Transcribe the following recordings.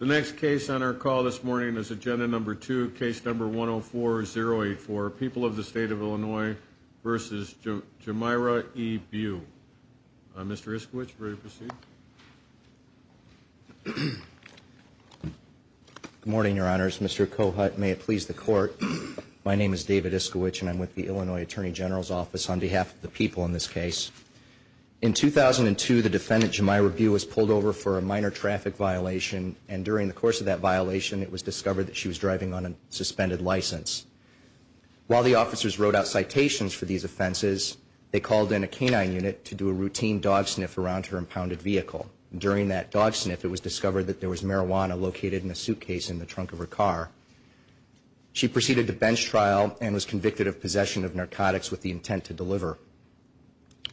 The next case on our call this morning is Agenda No. 2, Case No. 104-084, People of the State of Illinois v. Jamyra E. Bew. Mr. Iskiewicz, ready to proceed? Good morning, Your Honors. Mr. Cohut, may it please the Court, my name is David Iskiewicz and I'm with the Illinois Attorney General's Office on behalf of the people in this case. In 2002, the defendant Jamyra Bew was pulled over for a minor traffic violation and during the course of that violation, it was discovered that she was driving on a suspended license. While the officers wrote out citations for these offenses, they called in a canine unit to do a routine dog sniff around her impounded vehicle. During that dog sniff, it was discovered that there was marijuana located in a suitcase in the trunk of her car. She proceeded to bench trial and was convicted of possession of narcotics with the intent to deliver.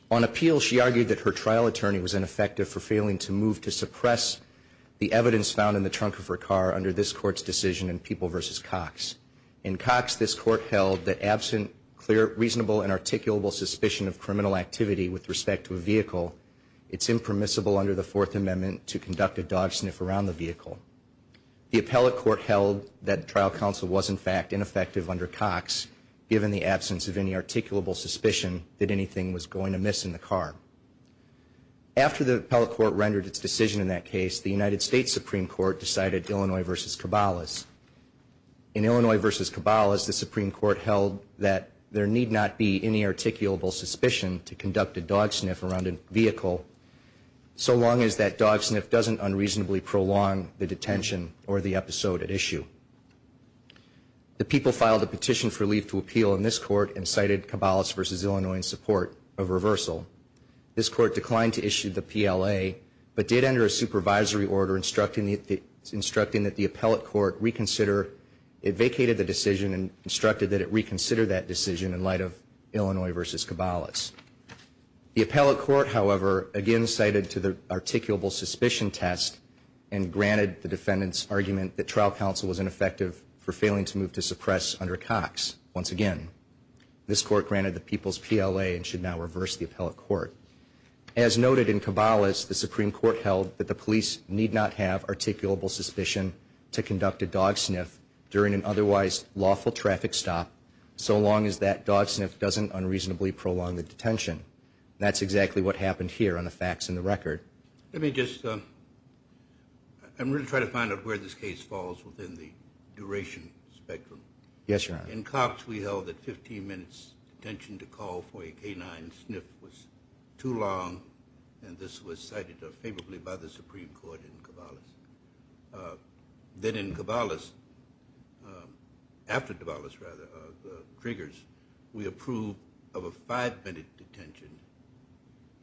On appeal, she argued that her trial attorney was ineffective for failing to move to suppress the evidence found in the trunk of her car under this Court's decision in People v. Cox. In Cox, this Court held that absent clear, reasonable, and articulable suspicion of criminal activity with respect to a vehicle, it's impermissible under the Fourth Amendment to conduct a dog sniff around the vehicle. The appellate court held that trial counsel was in fact ineffective under Cox given the absence of any articulable suspicion that anything was going amiss in the car. After the appellate court rendered its decision in that case, the United States Supreme Court decided Illinois v. Cabalas. In Illinois v. Cabalas, the Supreme Court held that there need not be any articulable suspicion to conduct a dog sniff around a vehicle so long as that dog sniff doesn't unreasonably prolong the detention or the episode at issue. The People filed a petition for leave to appeal in this Court and cited Cabalas v. Illinois in support of reversal. This Court declined to issue the PLA but did enter a supervisory order instructing that the appellate court reconsider. It vacated the decision and instructed that it reconsider that decision in light of Illinois v. Cabalas. The appellate court, however, again cited to the articulable suspicion test and granted the defendant's argument that trial counsel was ineffective for failing to move to suppress under Cox. Once again, this Court granted the People's PLA and should now reverse the appellate court. As noted in Cabalas, the Supreme Court held that the police need not have articulable suspicion to conduct a dog sniff during an otherwise lawful traffic stop so long as that dog sniff doesn't unreasonably prolong the detention. That's exactly what happened here on the facts in the record. Let me just, I'm going to try to find out where this case falls within the duration spectrum. Yes, Your Honor. In Cox we held that 15 minutes detention to call for a canine sniff was too long and this was cited favorably by the Supreme Court in Cabalas. Then in Cabalas, after Cabalas rather, Triggers, we approved of a five minute detention.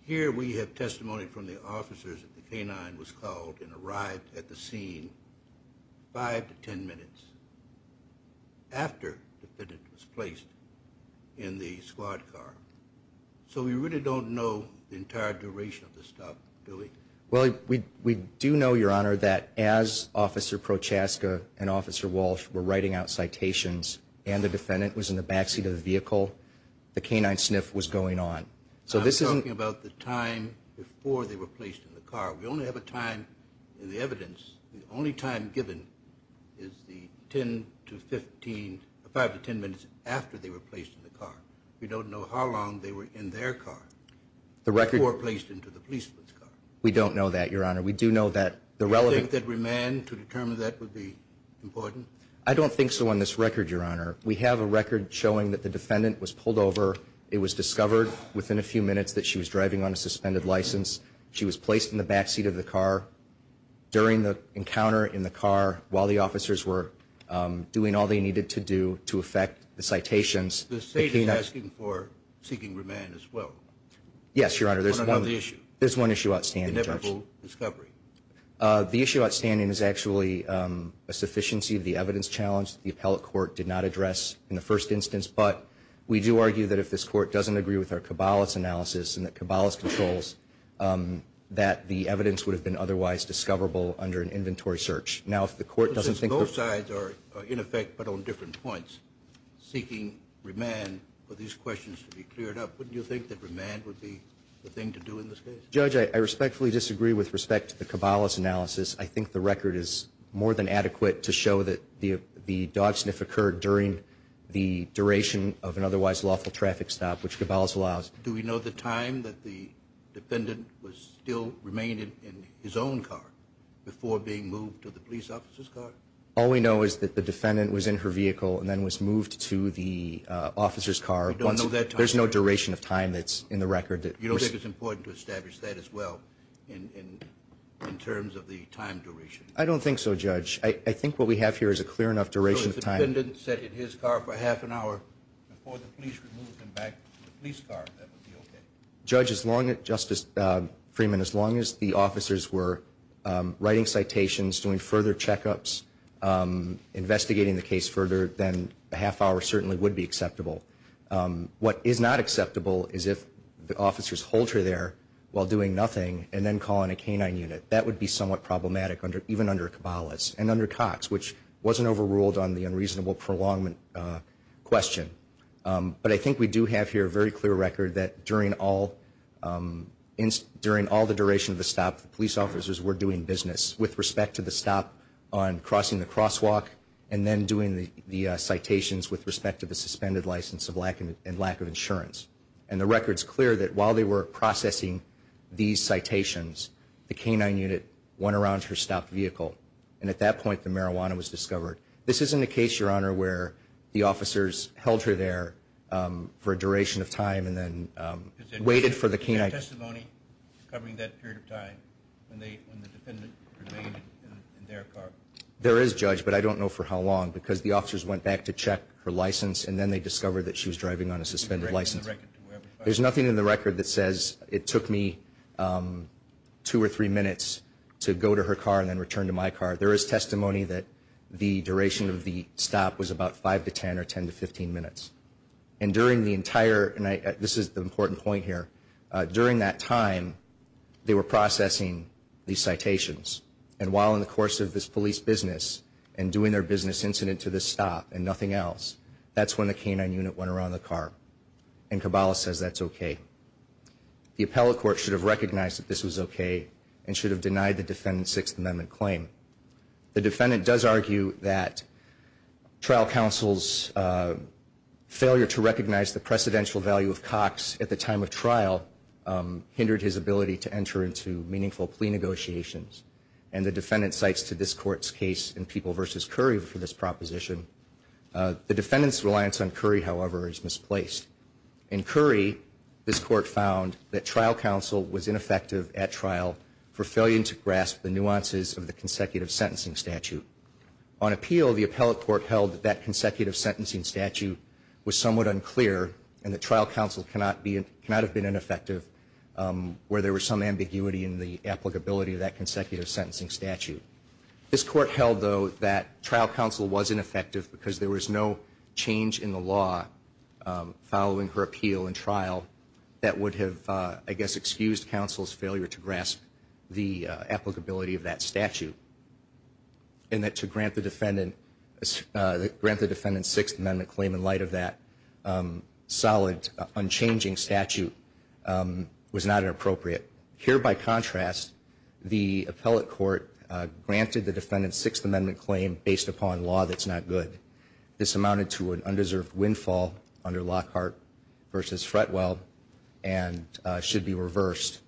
Here we have testimony from the officers that the canine was called and arrived at the scene five to ten minutes after the defendant was placed in the squad car. So we really don't know the entire duration of the stop, do we? Well, we do know, Your Honor, that as Officer Prochaska and Officer Walsh were writing out citations and the defendant was in the backseat of the vehicle, the canine sniff was going on. I'm talking about the time before they were placed in the car. We only have a time in the evidence. The only time given is the ten to fifteen, five to ten minutes after they were placed in the car. We don't know how long they were in their car before placed into the policeman's car. We don't know that, Your Honor. We do know that the relevant... Do you think that remand to determine that would be important? I don't think so on this record, Your Honor. We have a record showing that the defendant was pulled over. It was discovered within a few minutes that she was driving on a suspended license. She was placed in the backseat of the car during the encounter in the car while the officers were doing all they needed to do to affect the citations. The state is asking for seeking remand as well? Yes, Your Honor. On another issue? There's one issue outstanding, Judge. Inevitable discovery? The issue outstanding is actually a sufficiency of the evidence challenge that the appellate court did not address in the first instance, but we do argue that if this court doesn't agree with our Kabbalist analysis and the Kabbalist controls, that the evidence would have been otherwise discoverable under an inventory search. Now, if the court doesn't think... Both sides are in effect, but on different points, seeking remand for these questions to be cleared up. Wouldn't you think that remand would be the thing to do in this case? Judge, I respectfully disagree with respect to the Kabbalist analysis. I think the record is more than adequate to show that the dog sniff occurred during the duration of an otherwise lawful traffic stop, which Kabbalist allows. Do we know the time that the defendant was still remaining in his own car before being moved to the police officer's car? All we know is that the defendant was in her vehicle and then was moved to the officer's car. We don't know that time? There's no duration of time that's in the record. You don't think it's important to establish that as well in terms of the time duration? I don't think so, Judge. I think what we have here is a clear enough duration of time. So if the defendant sat in his car for half an hour before the police removed him back to the police car, that would be okay? Judge, Justice Freeman, as long as the officers were writing citations, doing further checkups, investigating the case further, then a half hour certainly would be acceptable. What is not acceptable is if the officers hold her there while doing nothing and then call in a canine unit. That would be somewhat problematic even under Kabbalists and under Cox, which wasn't overruled on the unreasonable prolongement question. But I think we do have here a very clear record that during all the duration of the stop, the police officers were doing business with respect to the stop on crossing the crosswalk and then doing the citations with respect to the suspended license and lack of insurance. And the record's clear that while they were processing these citations, the canine unit went around her stopped vehicle. And at that point, the marijuana was discovered. This isn't a case, Your Honor, where the officers held her there for a duration of time and then waited for the canine. Is there testimony covering that period of time when the defendant remained in their car? There is, Judge, but I don't know for how long because the officers went back to check her license and then they discovered that she was driving on a suspended license. There's nothing in the record that says it took me two or three minutes to go to her car and then return to my car. There is testimony that the duration of the stop was about 5 to 10 or 10 to 15 minutes. And during the entire, and this is the important point here, during that time, they were processing these citations. And while in the course of this police business and doing their business incident to this stop and nothing else, that's when the canine unit went around the car. And Caballa says that's okay. The appellate court should have recognized that this was okay and should have denied the defendant's Sixth Amendment claim. The defendant does argue that trial counsel's failure to recognize the precedential value of Cox at the time of trial hindered his ability to enter into meaningful plea negotiations. And the defendant cites to this court's case in People v. Curry for this proposition. The defendant's reliance on Curry, however, is misplaced. In Curry, this court found that trial counsel was ineffective at trial for failing to grasp the nuances of the consecutive sentencing statute. On appeal, the appellate court held that that consecutive sentencing statute was somewhat unclear and that trial counsel cannot have been ineffective where there was some ambiguity in the applicability of that consecutive sentencing statute. This court held, though, that trial counsel was ineffective because there was no change in the law following her appeal and trial that would have, I guess, excused counsel's failure to grasp the applicability of that statute. And that to grant the defendant's Sixth Amendment claim in light of that solid, unchanging statute was not appropriate. Here, by contrast, the appellate court granted the defendant's Sixth Amendment claim based upon law that's not good. This amounted to an undeserved windfall under Lockhart v. Fretwell and should be reversed.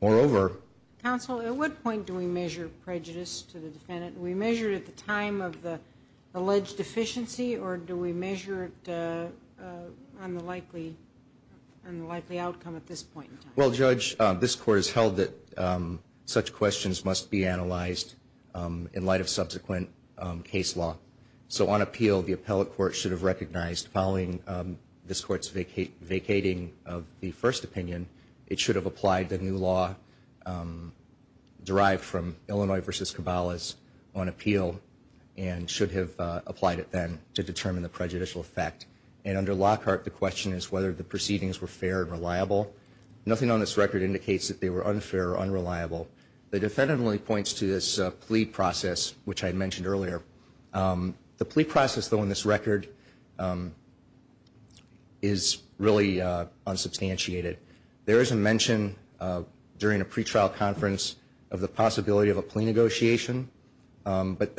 Moreover... Counsel, at what point do we measure prejudice to the defendant? Do we measure it at the time of the alleged deficiency or do we measure it on the likely outcome at this point in time? Well, Judge, this court has held that such questions must be analyzed in light of subsequent case law. So on appeal, the appellate court should have recognized following this court's vacating of the first opinion, it should have applied the new law derived from Illinois v. Cabalas on appeal and should have applied it then to determine the prejudicial effect. And under Lockhart, the question is whether the proceedings were fair and reliable. Nothing on this record indicates that they were unfair or unreliable. The defendant only points to this plea process, which I mentioned earlier. The plea process, though, in this record is really unsubstantiated. There is a mention during a pretrial conference of the possibility of a plea negotiation, but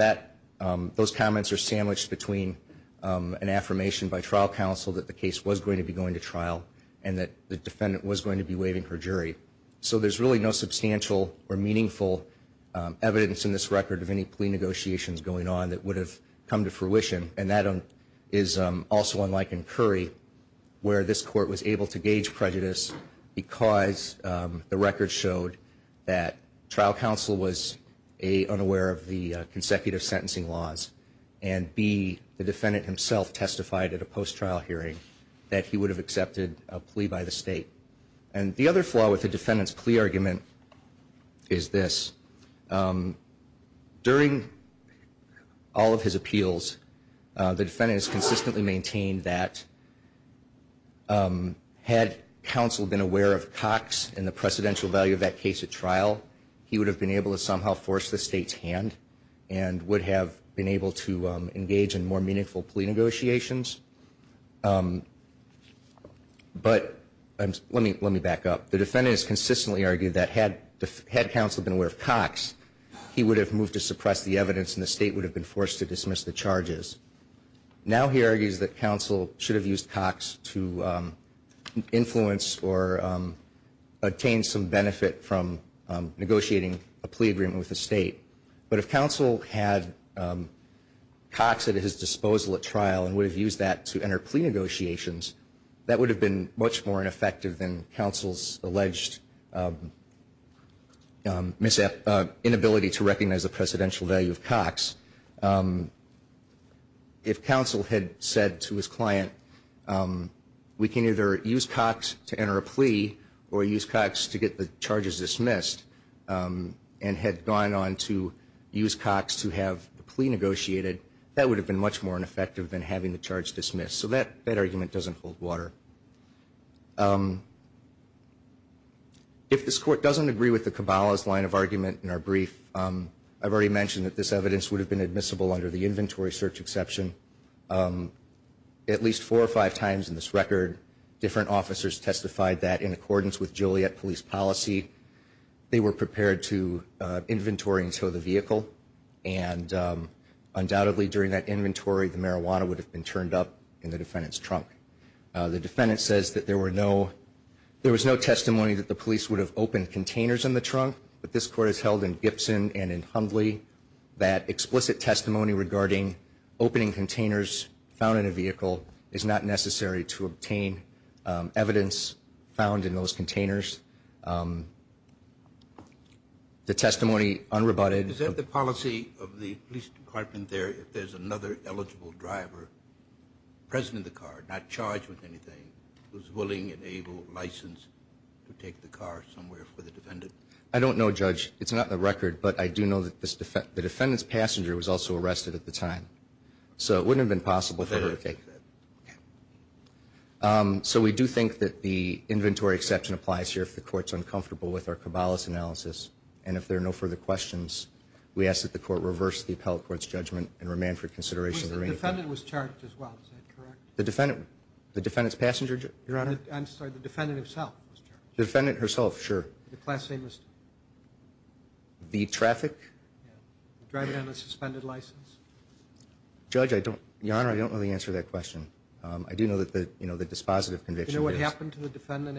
those comments are sandwiched between an affirmation by trial counsel that the case was going to be going to trial and that the defendant was going to be waiving her jury. So there's really no substantial or meaningful evidence in this record of any plea negotiations going on that would have come to fruition. And that is also unlike in Curry, where this court was able to gauge prejudice because the record showed that trial counsel was, A, unaware of the consecutive sentencing laws, and, B, the defendant himself testified at a post-trial hearing that he would have accepted a plea by the state. And the other flaw with the defendant's plea argument is this. During all of his appeals, the defendant has consistently maintained that had counsel been aware of Cox and the precedential value of that case at trial, he would have been able to somehow force the state's hand and would have been able to engage in more meaningful plea negotiations. But let me back up. The defendant has consistently argued that had counsel been aware of Cox, he would have moved to suppress the evidence and the state would have been forced to dismiss the charges. Now he argues that counsel should have used Cox to influence or obtain some benefit from negotiating a plea agreement with the state. But if counsel had Cox at his disposal at trial and would have used that to enter plea negotiations, that would have been much more ineffective than counsel's alleged inability to recognize the precedential value of Cox. If counsel had said to his client, we can either use Cox to enter a plea or use Cox to get the charges dismissed, and had gone on to use Cox to have the plea negotiated, that would have been much more ineffective than having the charge dismissed. So that argument doesn't hold water. If this Court doesn't agree with the Caballa's line of argument in our brief, I've already mentioned that this evidence would have been admissible under the inventory search exception. At least four or five times in this record, different officers testified that in accordance with Joliet police policy. They were prepared to inventory and tow the vehicle. And undoubtedly during that inventory, the marijuana would have been turned up in the defendant's trunk. The defendant says that there was no testimony that the police would have opened containers in the trunk. But this Court has held in Gibson and in Hundley that explicit testimony regarding opening containers found in a vehicle is not necessary to obtain evidence found in those containers. The testimony unrebutted. Is that the policy of the police department there if there's another eligible driver present in the car, not charged with anything, who's willing and able, licensed to take the car somewhere for the defendant? I don't know, Judge. It's not in the record, but I do know that the defendant's passenger was also arrested at the time. So it wouldn't have been possible for her to take it. So we do think that the inventory exception applies here if the Court's uncomfortable with our Cabalas analysis. And if there are no further questions, we ask that the Court reverse the appellate court's judgment and remand for consideration of the remaining findings. The defendant was charged as well. Is that correct? The defendant? The defendant's passenger, Your Honor? I'm sorry. The defendant herself was charged. The defendant herself. Sure. The class A misdemeanor. The traffic? Driving on a suspended license? Judge, Your Honor, I don't know the answer to that question. I do know that the dispositive conviction is... Do you know what happened to the defendant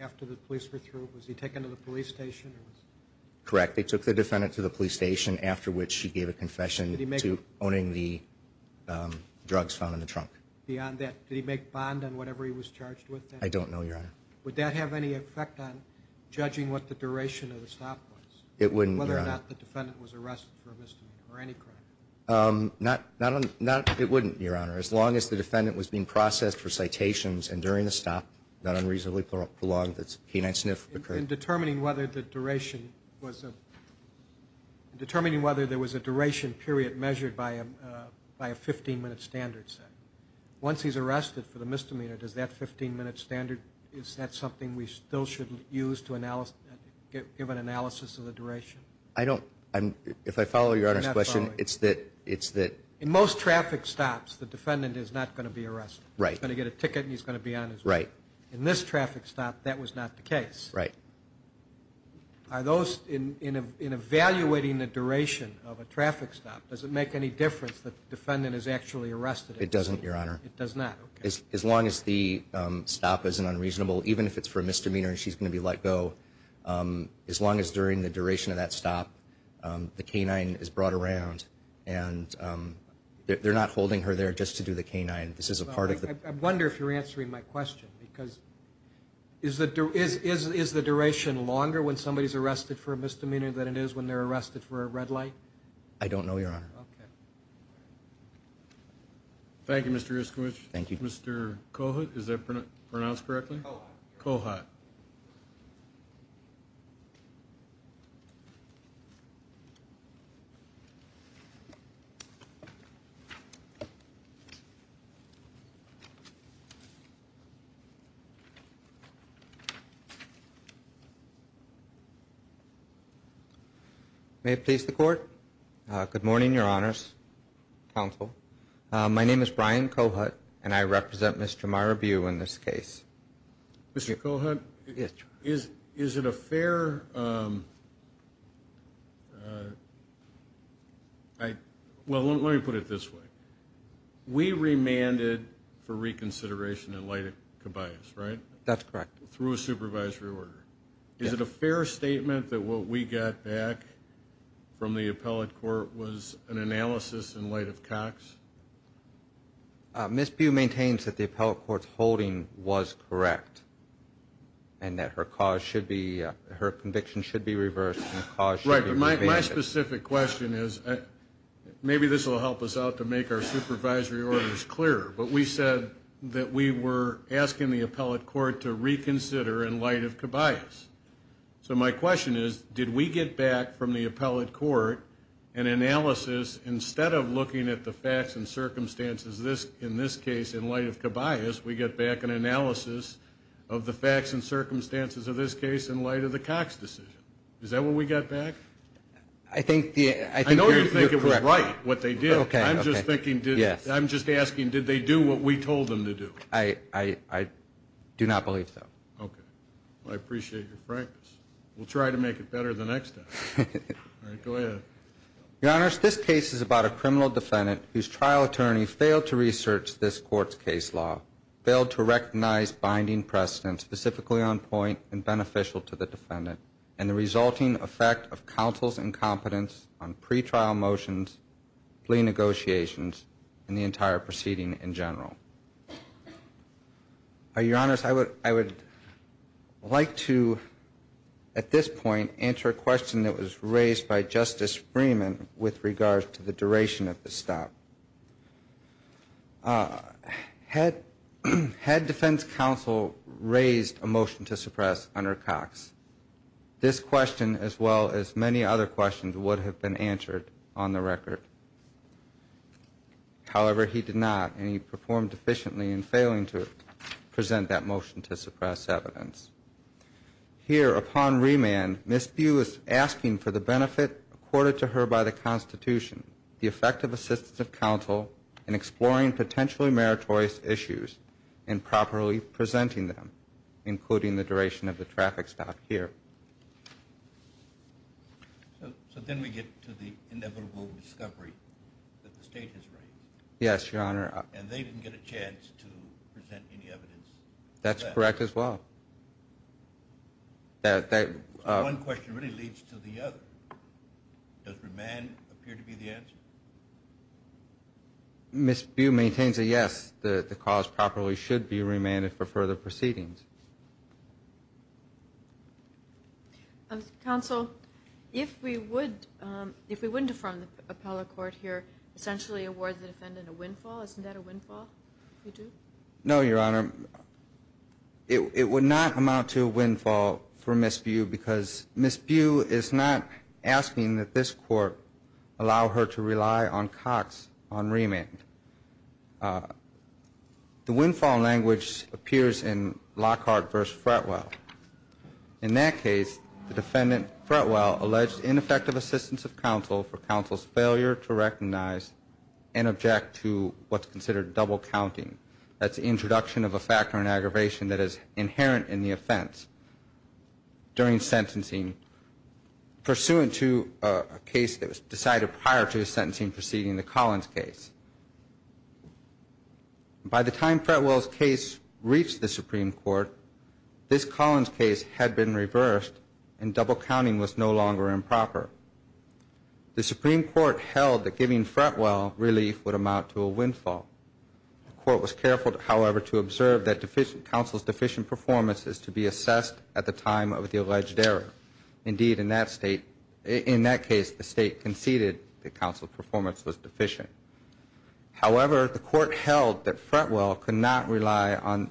after the police were through? Was he taken to the police station? Correct. They took the defendant to the police station, after which she gave a confession to owning the drugs found in the trunk. Beyond that, did he make bond on whatever he was charged with? I don't know, Your Honor. Would that have any effect on judging what the duration of the stop was? It wouldn't, Your Honor. Whether or not the defendant was arrested for a misdemeanor or any crime? It wouldn't, Your Honor. As long as the defendant was being processed for citations and during the stop, not unreasonably prolonged, the keen eye sniff occurred. In determining whether there was a duration period measured by a 15-minute standard set, once he's arrested for the misdemeanor, does that 15-minute standard, is that something we still shouldn't use to give an analysis of the duration? I don't. If I follow Your Honor's question, it's that... In most traffic stops, the defendant is not going to be arrested. Right. He's going to get a ticket and he's going to be on his way. Right. In this traffic stop, that was not the case. Right. Are those, in evaluating the duration of a traffic stop, does it make any difference that the defendant is actually arrested? It doesn't, Your Honor. It does not, okay. As long as the stop isn't unreasonable, even if it's for a misdemeanor and she's going to be let go, as long as during the duration of that stop, the canine is brought around and they're not holding her there just to do the canine. This is a part of the... I wonder if you're answering my question, because is the duration longer when somebody's arrested for a misdemeanor than it is when they're arrested for a red light? I don't know, Your Honor. Okay. Thank you, Mr. Iskowitz. Thank you. Mr. Cohut, is that pronounced correctly? Cohut. Cohut. May it please the Court. Good morning, Your Honors. Counsel. My name is Brian Cohut, and I represent Mr. Marabu in this case. Mr. Cohut? Yes, Your Honor. Is it a fair... Well, let me put it this way. We remanded for reconsideration in light of Khabib's, right? That's correct. Through a supervisory order. Is it a fair statement that what we got back from the appellate court was an analysis in light of Cox? Ms. Pugh maintains that the appellate court's holding was correct and that her conviction should be reversed. Right, but my specific question is, maybe this will help us out to make our supervisory orders clearer, but we said that we were asking the appellate court to reconsider in light of Khabib's. So my question is, did we get back from the appellate court an analysis, instead of looking at the facts and circumstances in this case in light of Khabib's, we get back an analysis of the facts and circumstances of this case in light of the Cox decision? Is that what we got back? I think the... I know you think it was right, what they did. Okay, okay. I'm just thinking, I'm just asking, did they do what we told them to do? I do not believe so. Okay. Well, I appreciate your frankness. We'll try to make it better the next time. All right, go ahead. Your Honors, this case is about a criminal defendant whose trial attorney failed to research this court's case law, failed to recognize binding precedent specifically on point and beneficial to the defendant, and the resulting effect of counsel's incompetence on pretrial motions, plea negotiations, and the entire proceeding in general. Your Honors, I would like to, at this point, answer a question that was raised by Justice Freeman with regards to the duration of the stop. Had defense counsel raised a motion to suppress under Cox, this question, as well as many other questions, would have been answered on the record. However, he did not, and he performed efficiently in failing to present that motion to suppress evidence. Here, upon remand, Ms. Beu is asking for the benefit accorded to her by the Constitution, the effect of assistance of counsel in exploring potentially meritorious issues and properly presenting them, including the duration of the traffic stop here. So then we get to the inevitable discovery that the State has raised. Yes, Your Honor. And they didn't get a chance to present any evidence. That's correct, as well. So one question really leads to the other. Does remand appear to be the answer? Ms. Beu maintains a yes. The cause properly should be remanded for further proceedings. Counsel, if we wouldn't affirm the appellate court here, essentially award the defendant a windfall, isn't that a windfall? No, Your Honor. It would not amount to a windfall for Ms. Beu, because Ms. Beu is not asking that this court allow her to rely on Cox on remand. The windfall language appears in Lockhart v. Fretwell. In that case, the defendant, Fretwell, alleged ineffective assistance of counsel for counsel's failure to recognize and object to what's considered double counting. That's the introduction of a factor in aggravation that is inherent in the offense. During sentencing, pursuant to a case that was decided prior to the sentencing proceeding, the Collins case. By the time Fretwell's case reached the Supreme Court, this Collins case had been reversed and double counting was no longer improper. The Supreme Court held that giving Fretwell relief would amount to a windfall. The court was careful, however, to observe that counsel's deficient performance is to be assessed at the time of the alleged error. Indeed, in that case, the state conceded that counsel's performance was deficient. However, the court held that Fretwell could not rely on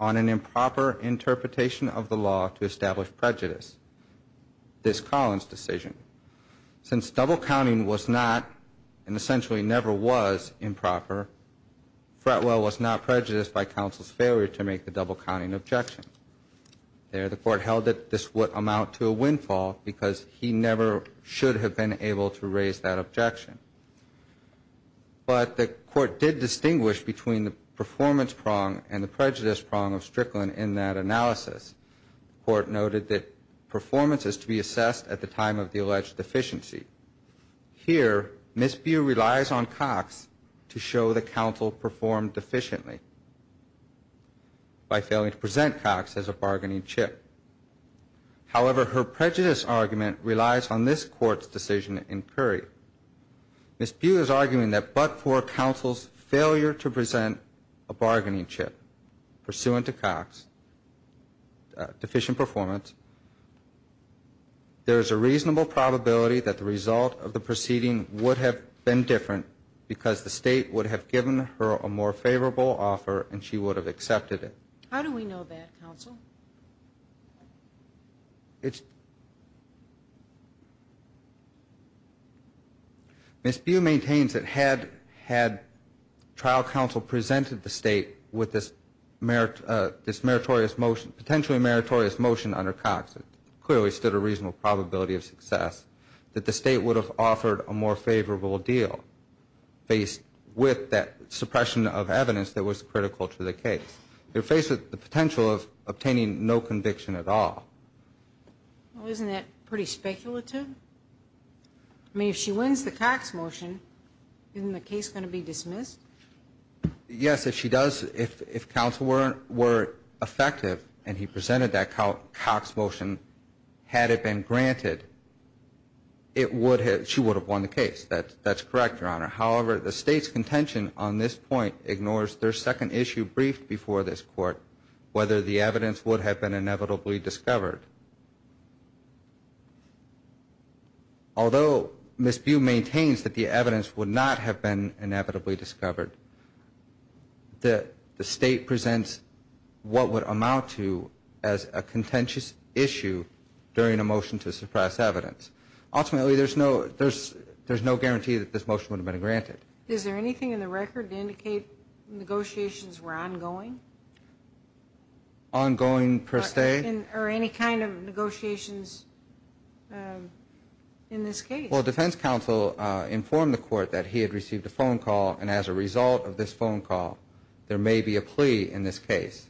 an improper interpretation of the law to establish prejudice, this Collins decision. Since double counting was not, and essentially never was, improper, Fretwell was not prejudiced by counsel's failure to make the double counting objection. There, the court held that this would amount to a windfall because he never should have been able to raise that objection. But the court did distinguish between the performance prong and the prejudice prong of Strickland in that analysis. The court noted that performance is to be assessed at the time of the alleged deficiency. Here, Ms. Bew relies on Cox to show that counsel performed deficiently by failing to present Cox as a bargaining chip. However, her prejudice argument relies on this court's decision in Curry. Ms. Bew is arguing that but for counsel's failure to present a bargaining chip pursuant to Cox's deficient performance, there is a reasonable probability that the result of the proceeding would have been different because the state would have given her a more favorable offer and she would have accepted it. How do we know that, counsel? Ms. Bew maintains that had trial counsel presented the state with this meritorious motion, under Cox, it clearly stood a reasonable probability of success, that the state would have offered a more favorable deal based with that suppression of evidence that was critical to the case. They're faced with the potential of obtaining no conviction at all. Well, isn't that pretty speculative? I mean, if she wins the Cox motion, isn't the case going to be dismissed? Yes, if she does, if counsel were effective and he presented that Cox motion, had it been granted, she would have won the case. That's correct, Your Honor. However, the state's contention on this point ignores their second issue briefed before this court, whether the evidence would have been inevitably discovered. Although Ms. Bew maintains that the evidence would not have been inevitably discovered, the state presents what would amount to as a contentious issue during a motion to suppress evidence. Ultimately, there's no guarantee that this motion would have been granted. Is there anything in the record to indicate negotiations were ongoing? Ongoing per se. Okay. Or any kind of negotiations in this case? Well, defense counsel informed the court that he had received a phone call, and as a result of this phone call, there may be a plea in this case.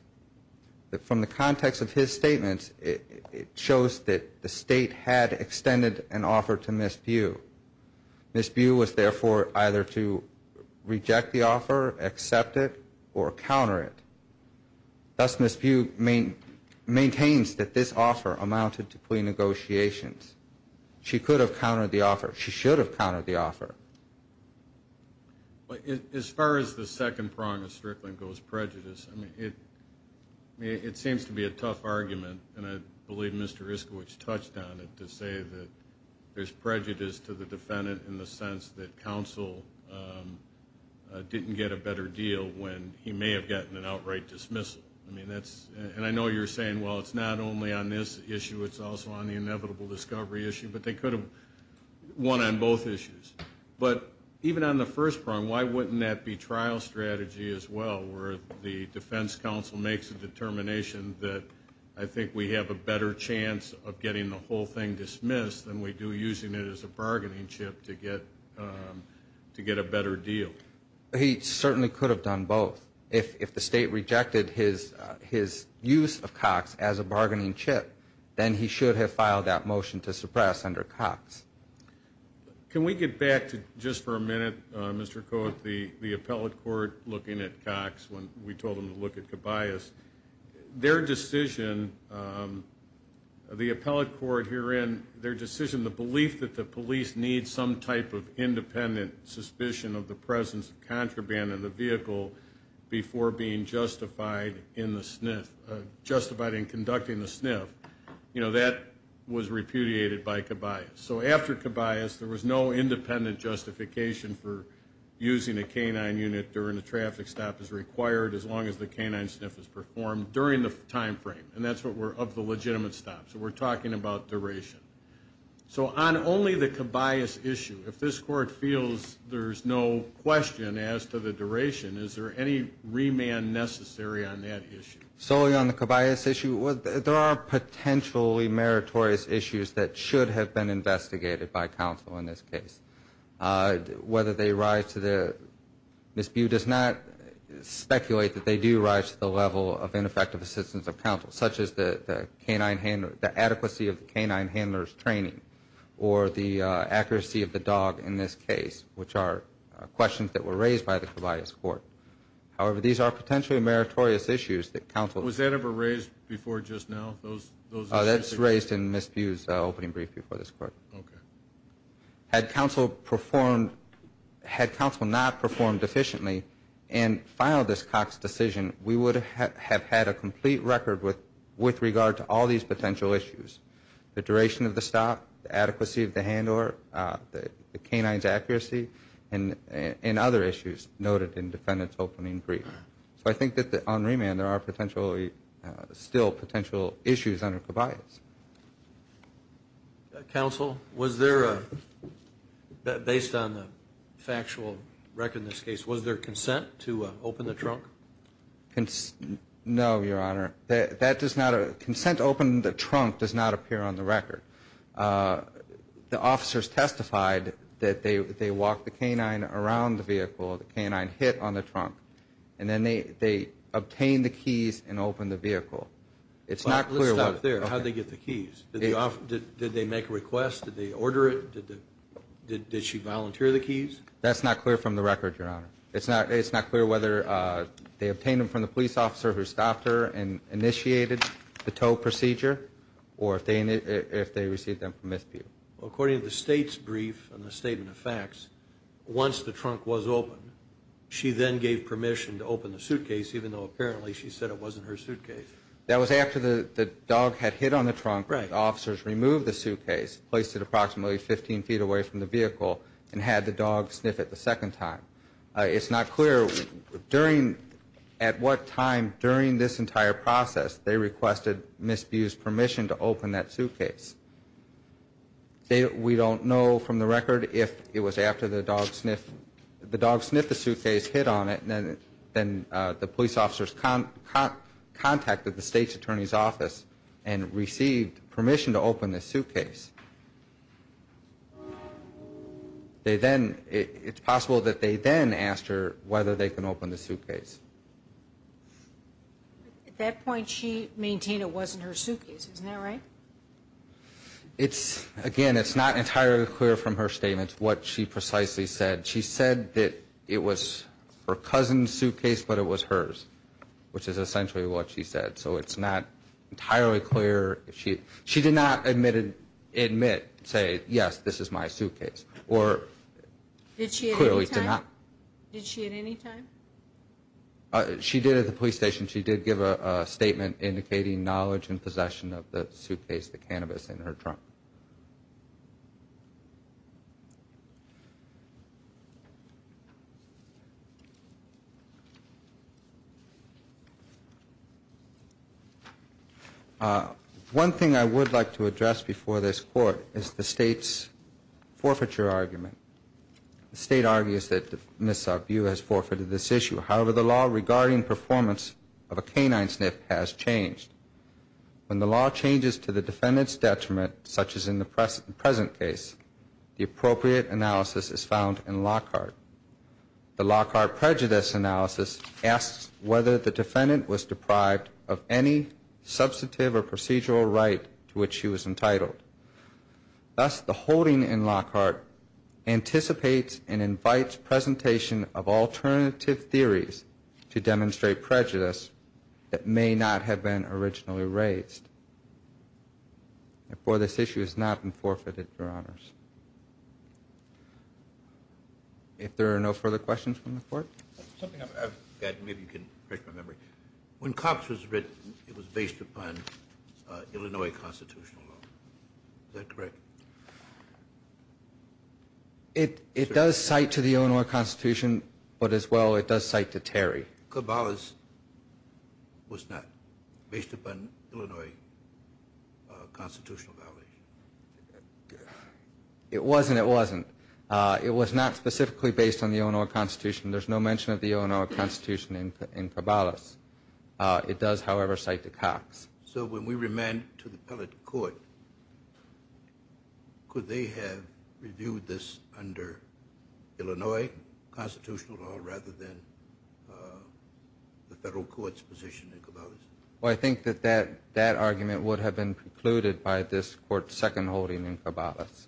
From the context of his statement, it shows that the state had extended an offer to Ms. Bew. Ms. Bew was, therefore, either to reject the offer, accept it, or counter it. Thus, Ms. Bew maintains that this offer amounted to plea negotiations. She could have countered the offer. She should have countered the offer. As far as the second prong of Strickland goes, prejudice, I mean, it seems to be a tough argument, and I believe Mr. Iskowitz touched on it, to say that there's prejudice to the defendant in the sense that counsel didn't get a better deal when he may have gotten an outright dismissal. And I know you're saying, well, it's not only on this issue, it's also on the inevitable discovery issue, but they could have won on both issues. But even on the first prong, why wouldn't that be trial strategy as well, where the defense counsel makes a determination that I think we have a better chance of getting the whole thing to get a better deal? He certainly could have done both. If the state rejected his use of Cox as a bargaining chip, then he should have filed that motion to suppress under Cox. Can we get back to, just for a minute, Mr. Kohut, the appellate court looking at Cox when we told them to look at Cabayas? Their decision, the appellate court herein, their decision, the belief that the police need some type of independent suspicion of the presence of contraband in the vehicle before being justified in conducting the sniff, that was repudiated by Cabayas. So after Cabayas, there was no independent justification for using a canine unit during a traffic stop as required as long as the canine sniff is performed during the time frame, and that's what we're, of the legitimate stop. So we're talking about duration. So on only the Cabayas issue, if this court feels there's no question as to the duration, is there any remand necessary on that issue? Solely on the Cabayas issue, there are potentially meritorious issues that should have been investigated by counsel in this case. Whether they rise to the, Ms. Bue does not speculate that they do rise to the level of ineffective assistance of counsel, such as the adequacy of the canine handler's training or the accuracy of the dog in this case, which are questions that were raised by the Cabayas court. However, these are potentially meritorious issues that counsel. Was that ever raised before just now, those issues? That's raised in Ms. Bue's opening brief before this court. Had counsel performed, had counsel not performed efficiently and filed this Cox decision, we would have had a complete record with regard to all these potential issues, the duration of the stop, the adequacy of the handler, the canine's accuracy, and other issues noted in defendant's opening brief. So I think that on remand, there are potentially still potential issues under Cabayas. Counsel, was there, based on the factual record in this case, was there consent to open the trunk? No, Your Honor. That does not, consent to open the trunk does not appear on the record. The officers testified that they walked the canine around the vehicle, the canine hit on the trunk, and then they obtained the keys and opened the vehicle. It's not clear. Let's stop there. How did they get the keys? Did they make a request? Did they order it? Did she volunteer the keys? That's not clear from the record, Your Honor. It's not clear whether they obtained them from the police officer who stopped her and initiated the tow procedure or if they received them from Ms. Bue. According to the state's brief and the statement of facts, once the trunk was opened, she then gave permission to open the suitcase even though apparently she said it wasn't her suitcase. That was after the dog had hit on the trunk. Right. The officers removed the suitcase, placed it approximately 15 feet away from the vehicle, and had the dog sniff it the second time. It's not clear at what time during this entire process they requested Ms. Bue's permission to open that suitcase. We don't know from the record if it was after the dog sniffed the suitcase, hit on it, and then the police officers contacted the state's attorney's office and received permission to open the suitcase. It's possible that they then asked her whether they can open the suitcase. At that point, she maintained it wasn't her suitcase. Isn't that right? Again, it's not entirely clear from her statement what she precisely said. She said that it was her cousin's suitcase, but it was hers, which is essentially what she said. So it's not entirely clear. She did not admit, say, yes, this is my suitcase, or clearly did not. Did she at any time? She did at the police station. She did give a statement indicating knowledge and possession of the suitcase, the cannabis in her trunk. One thing I would like to address before this court is the state's forfeiture argument. The state argues that Ms. Arbu has forfeited this issue. However, the law regarding performance of a canine sniff has changed. When the law changes to the defendant's detriment, such as in the present case, the appropriate analysis is found in Lockhart. The Lockhart prejudice analysis asks whether the defendant was deprived of any substantive or procedural right to which she was entitled. Thus, the holding in Lockhart anticipates and invites presentation of alternative theories to demonstrate prejudice that may not have been originally raised. Therefore, this issue has not been forfeited, Your Honors. If there are no further questions from the court? Something I've got, maybe you can refresh my memory. When Cox was written, it was based upon Illinois constitutional law. Is that correct? It does cite to the Illinois Constitution, but as well, it does cite to Terry. Cabalas was not based upon Illinois constitutional validation. It wasn't, it wasn't. It was not specifically based on the Illinois Constitution. There's no mention of the Illinois Constitution in Cabalas. It does, however, cite to Cox. So when we remand it to the appellate court, could they have reviewed this under Illinois constitutional law rather than the federal court's position in Cabalas? Well, I think that that argument would have been precluded by this court's second holding in Cabalas.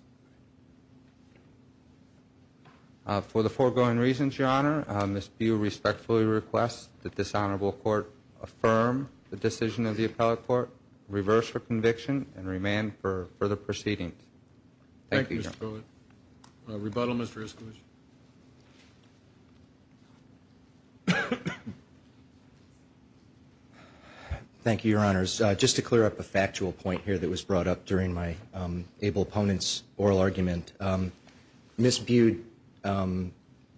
For the foregoing reasons, Your Honor, Ms. Bue respectfully requests that this Honorable Court affirm the decision of the appellate court, reverse her conviction, and remand for further proceedings. Thank you, Your Honor. Thank you, Mr. Pruitt. Rebuttal, Mr. Iskalos. Thank you, Your Honors. Just to clear up a factual point here that was brought up during my able opponent's oral argument, Ms. Bue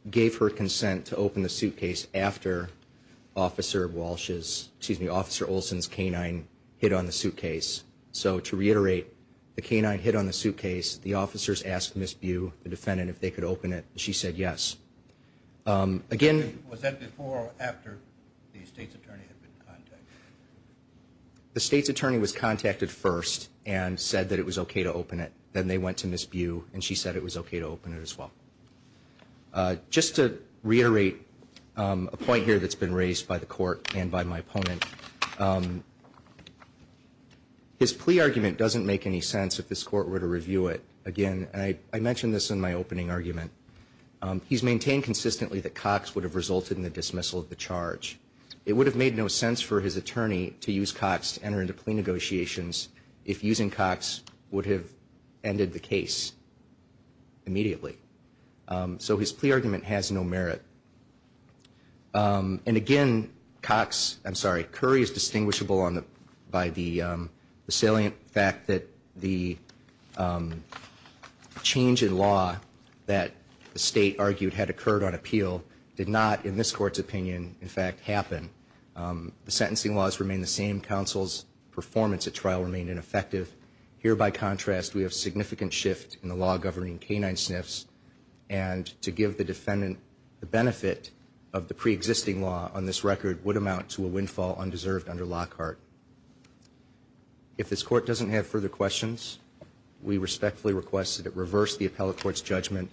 gave her consent to open the suitcase after Officer Walsh's, excuse me, Officer Olson's canine hit on the suitcase. So to reiterate, the canine hit on the suitcase. The officers asked Ms. Bue, the defendant, if they could open it. She said yes. Was that before or after the state's attorney had been contacted? The state's attorney was contacted first and said that it was okay to open it. Then they went to Ms. Bue and she said it was okay to open it as well. Just to reiterate a point here that's been raised by the court and by my opponent, his plea argument doesn't make any sense if this court were to review it again. I mentioned this in my opening argument. He's maintained consistently that Cox would have resulted in the dismissal of the charge. It would have made no sense for his attorney to use Cox to enter into plea negotiations if using Cox would have ended the case immediately. So his plea argument has no merit. And again, Cox, I'm sorry, Curry is distinguishable by the salient fact that the change in law that the state argued had occurred on appeal did not, in this court's opinion, in fact happen. The sentencing laws remain the same. Counsel's performance at trial remained ineffective. Here, by contrast, we have significant shift in the law governing canine sniffs. And to give the defendant the benefit of the preexisting law on this record would amount to a windfall undeserved under Lockhart. If this court doesn't have further questions, we respectfully request that it reverse the appellate court's judgment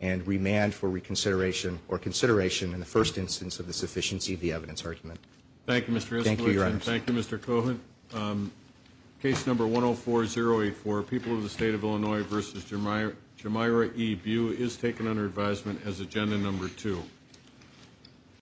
and remand for reconsideration or consideration in the first instance of the sufficiency of the evidence argument. Thank you, Mr. Esposito. Thank you, Your Honor. Thank you, Mr. Cohan. Case number 104-084, People of the State of Illinois v. Jamyra E. Bew, is taken under advisement as agenda number two.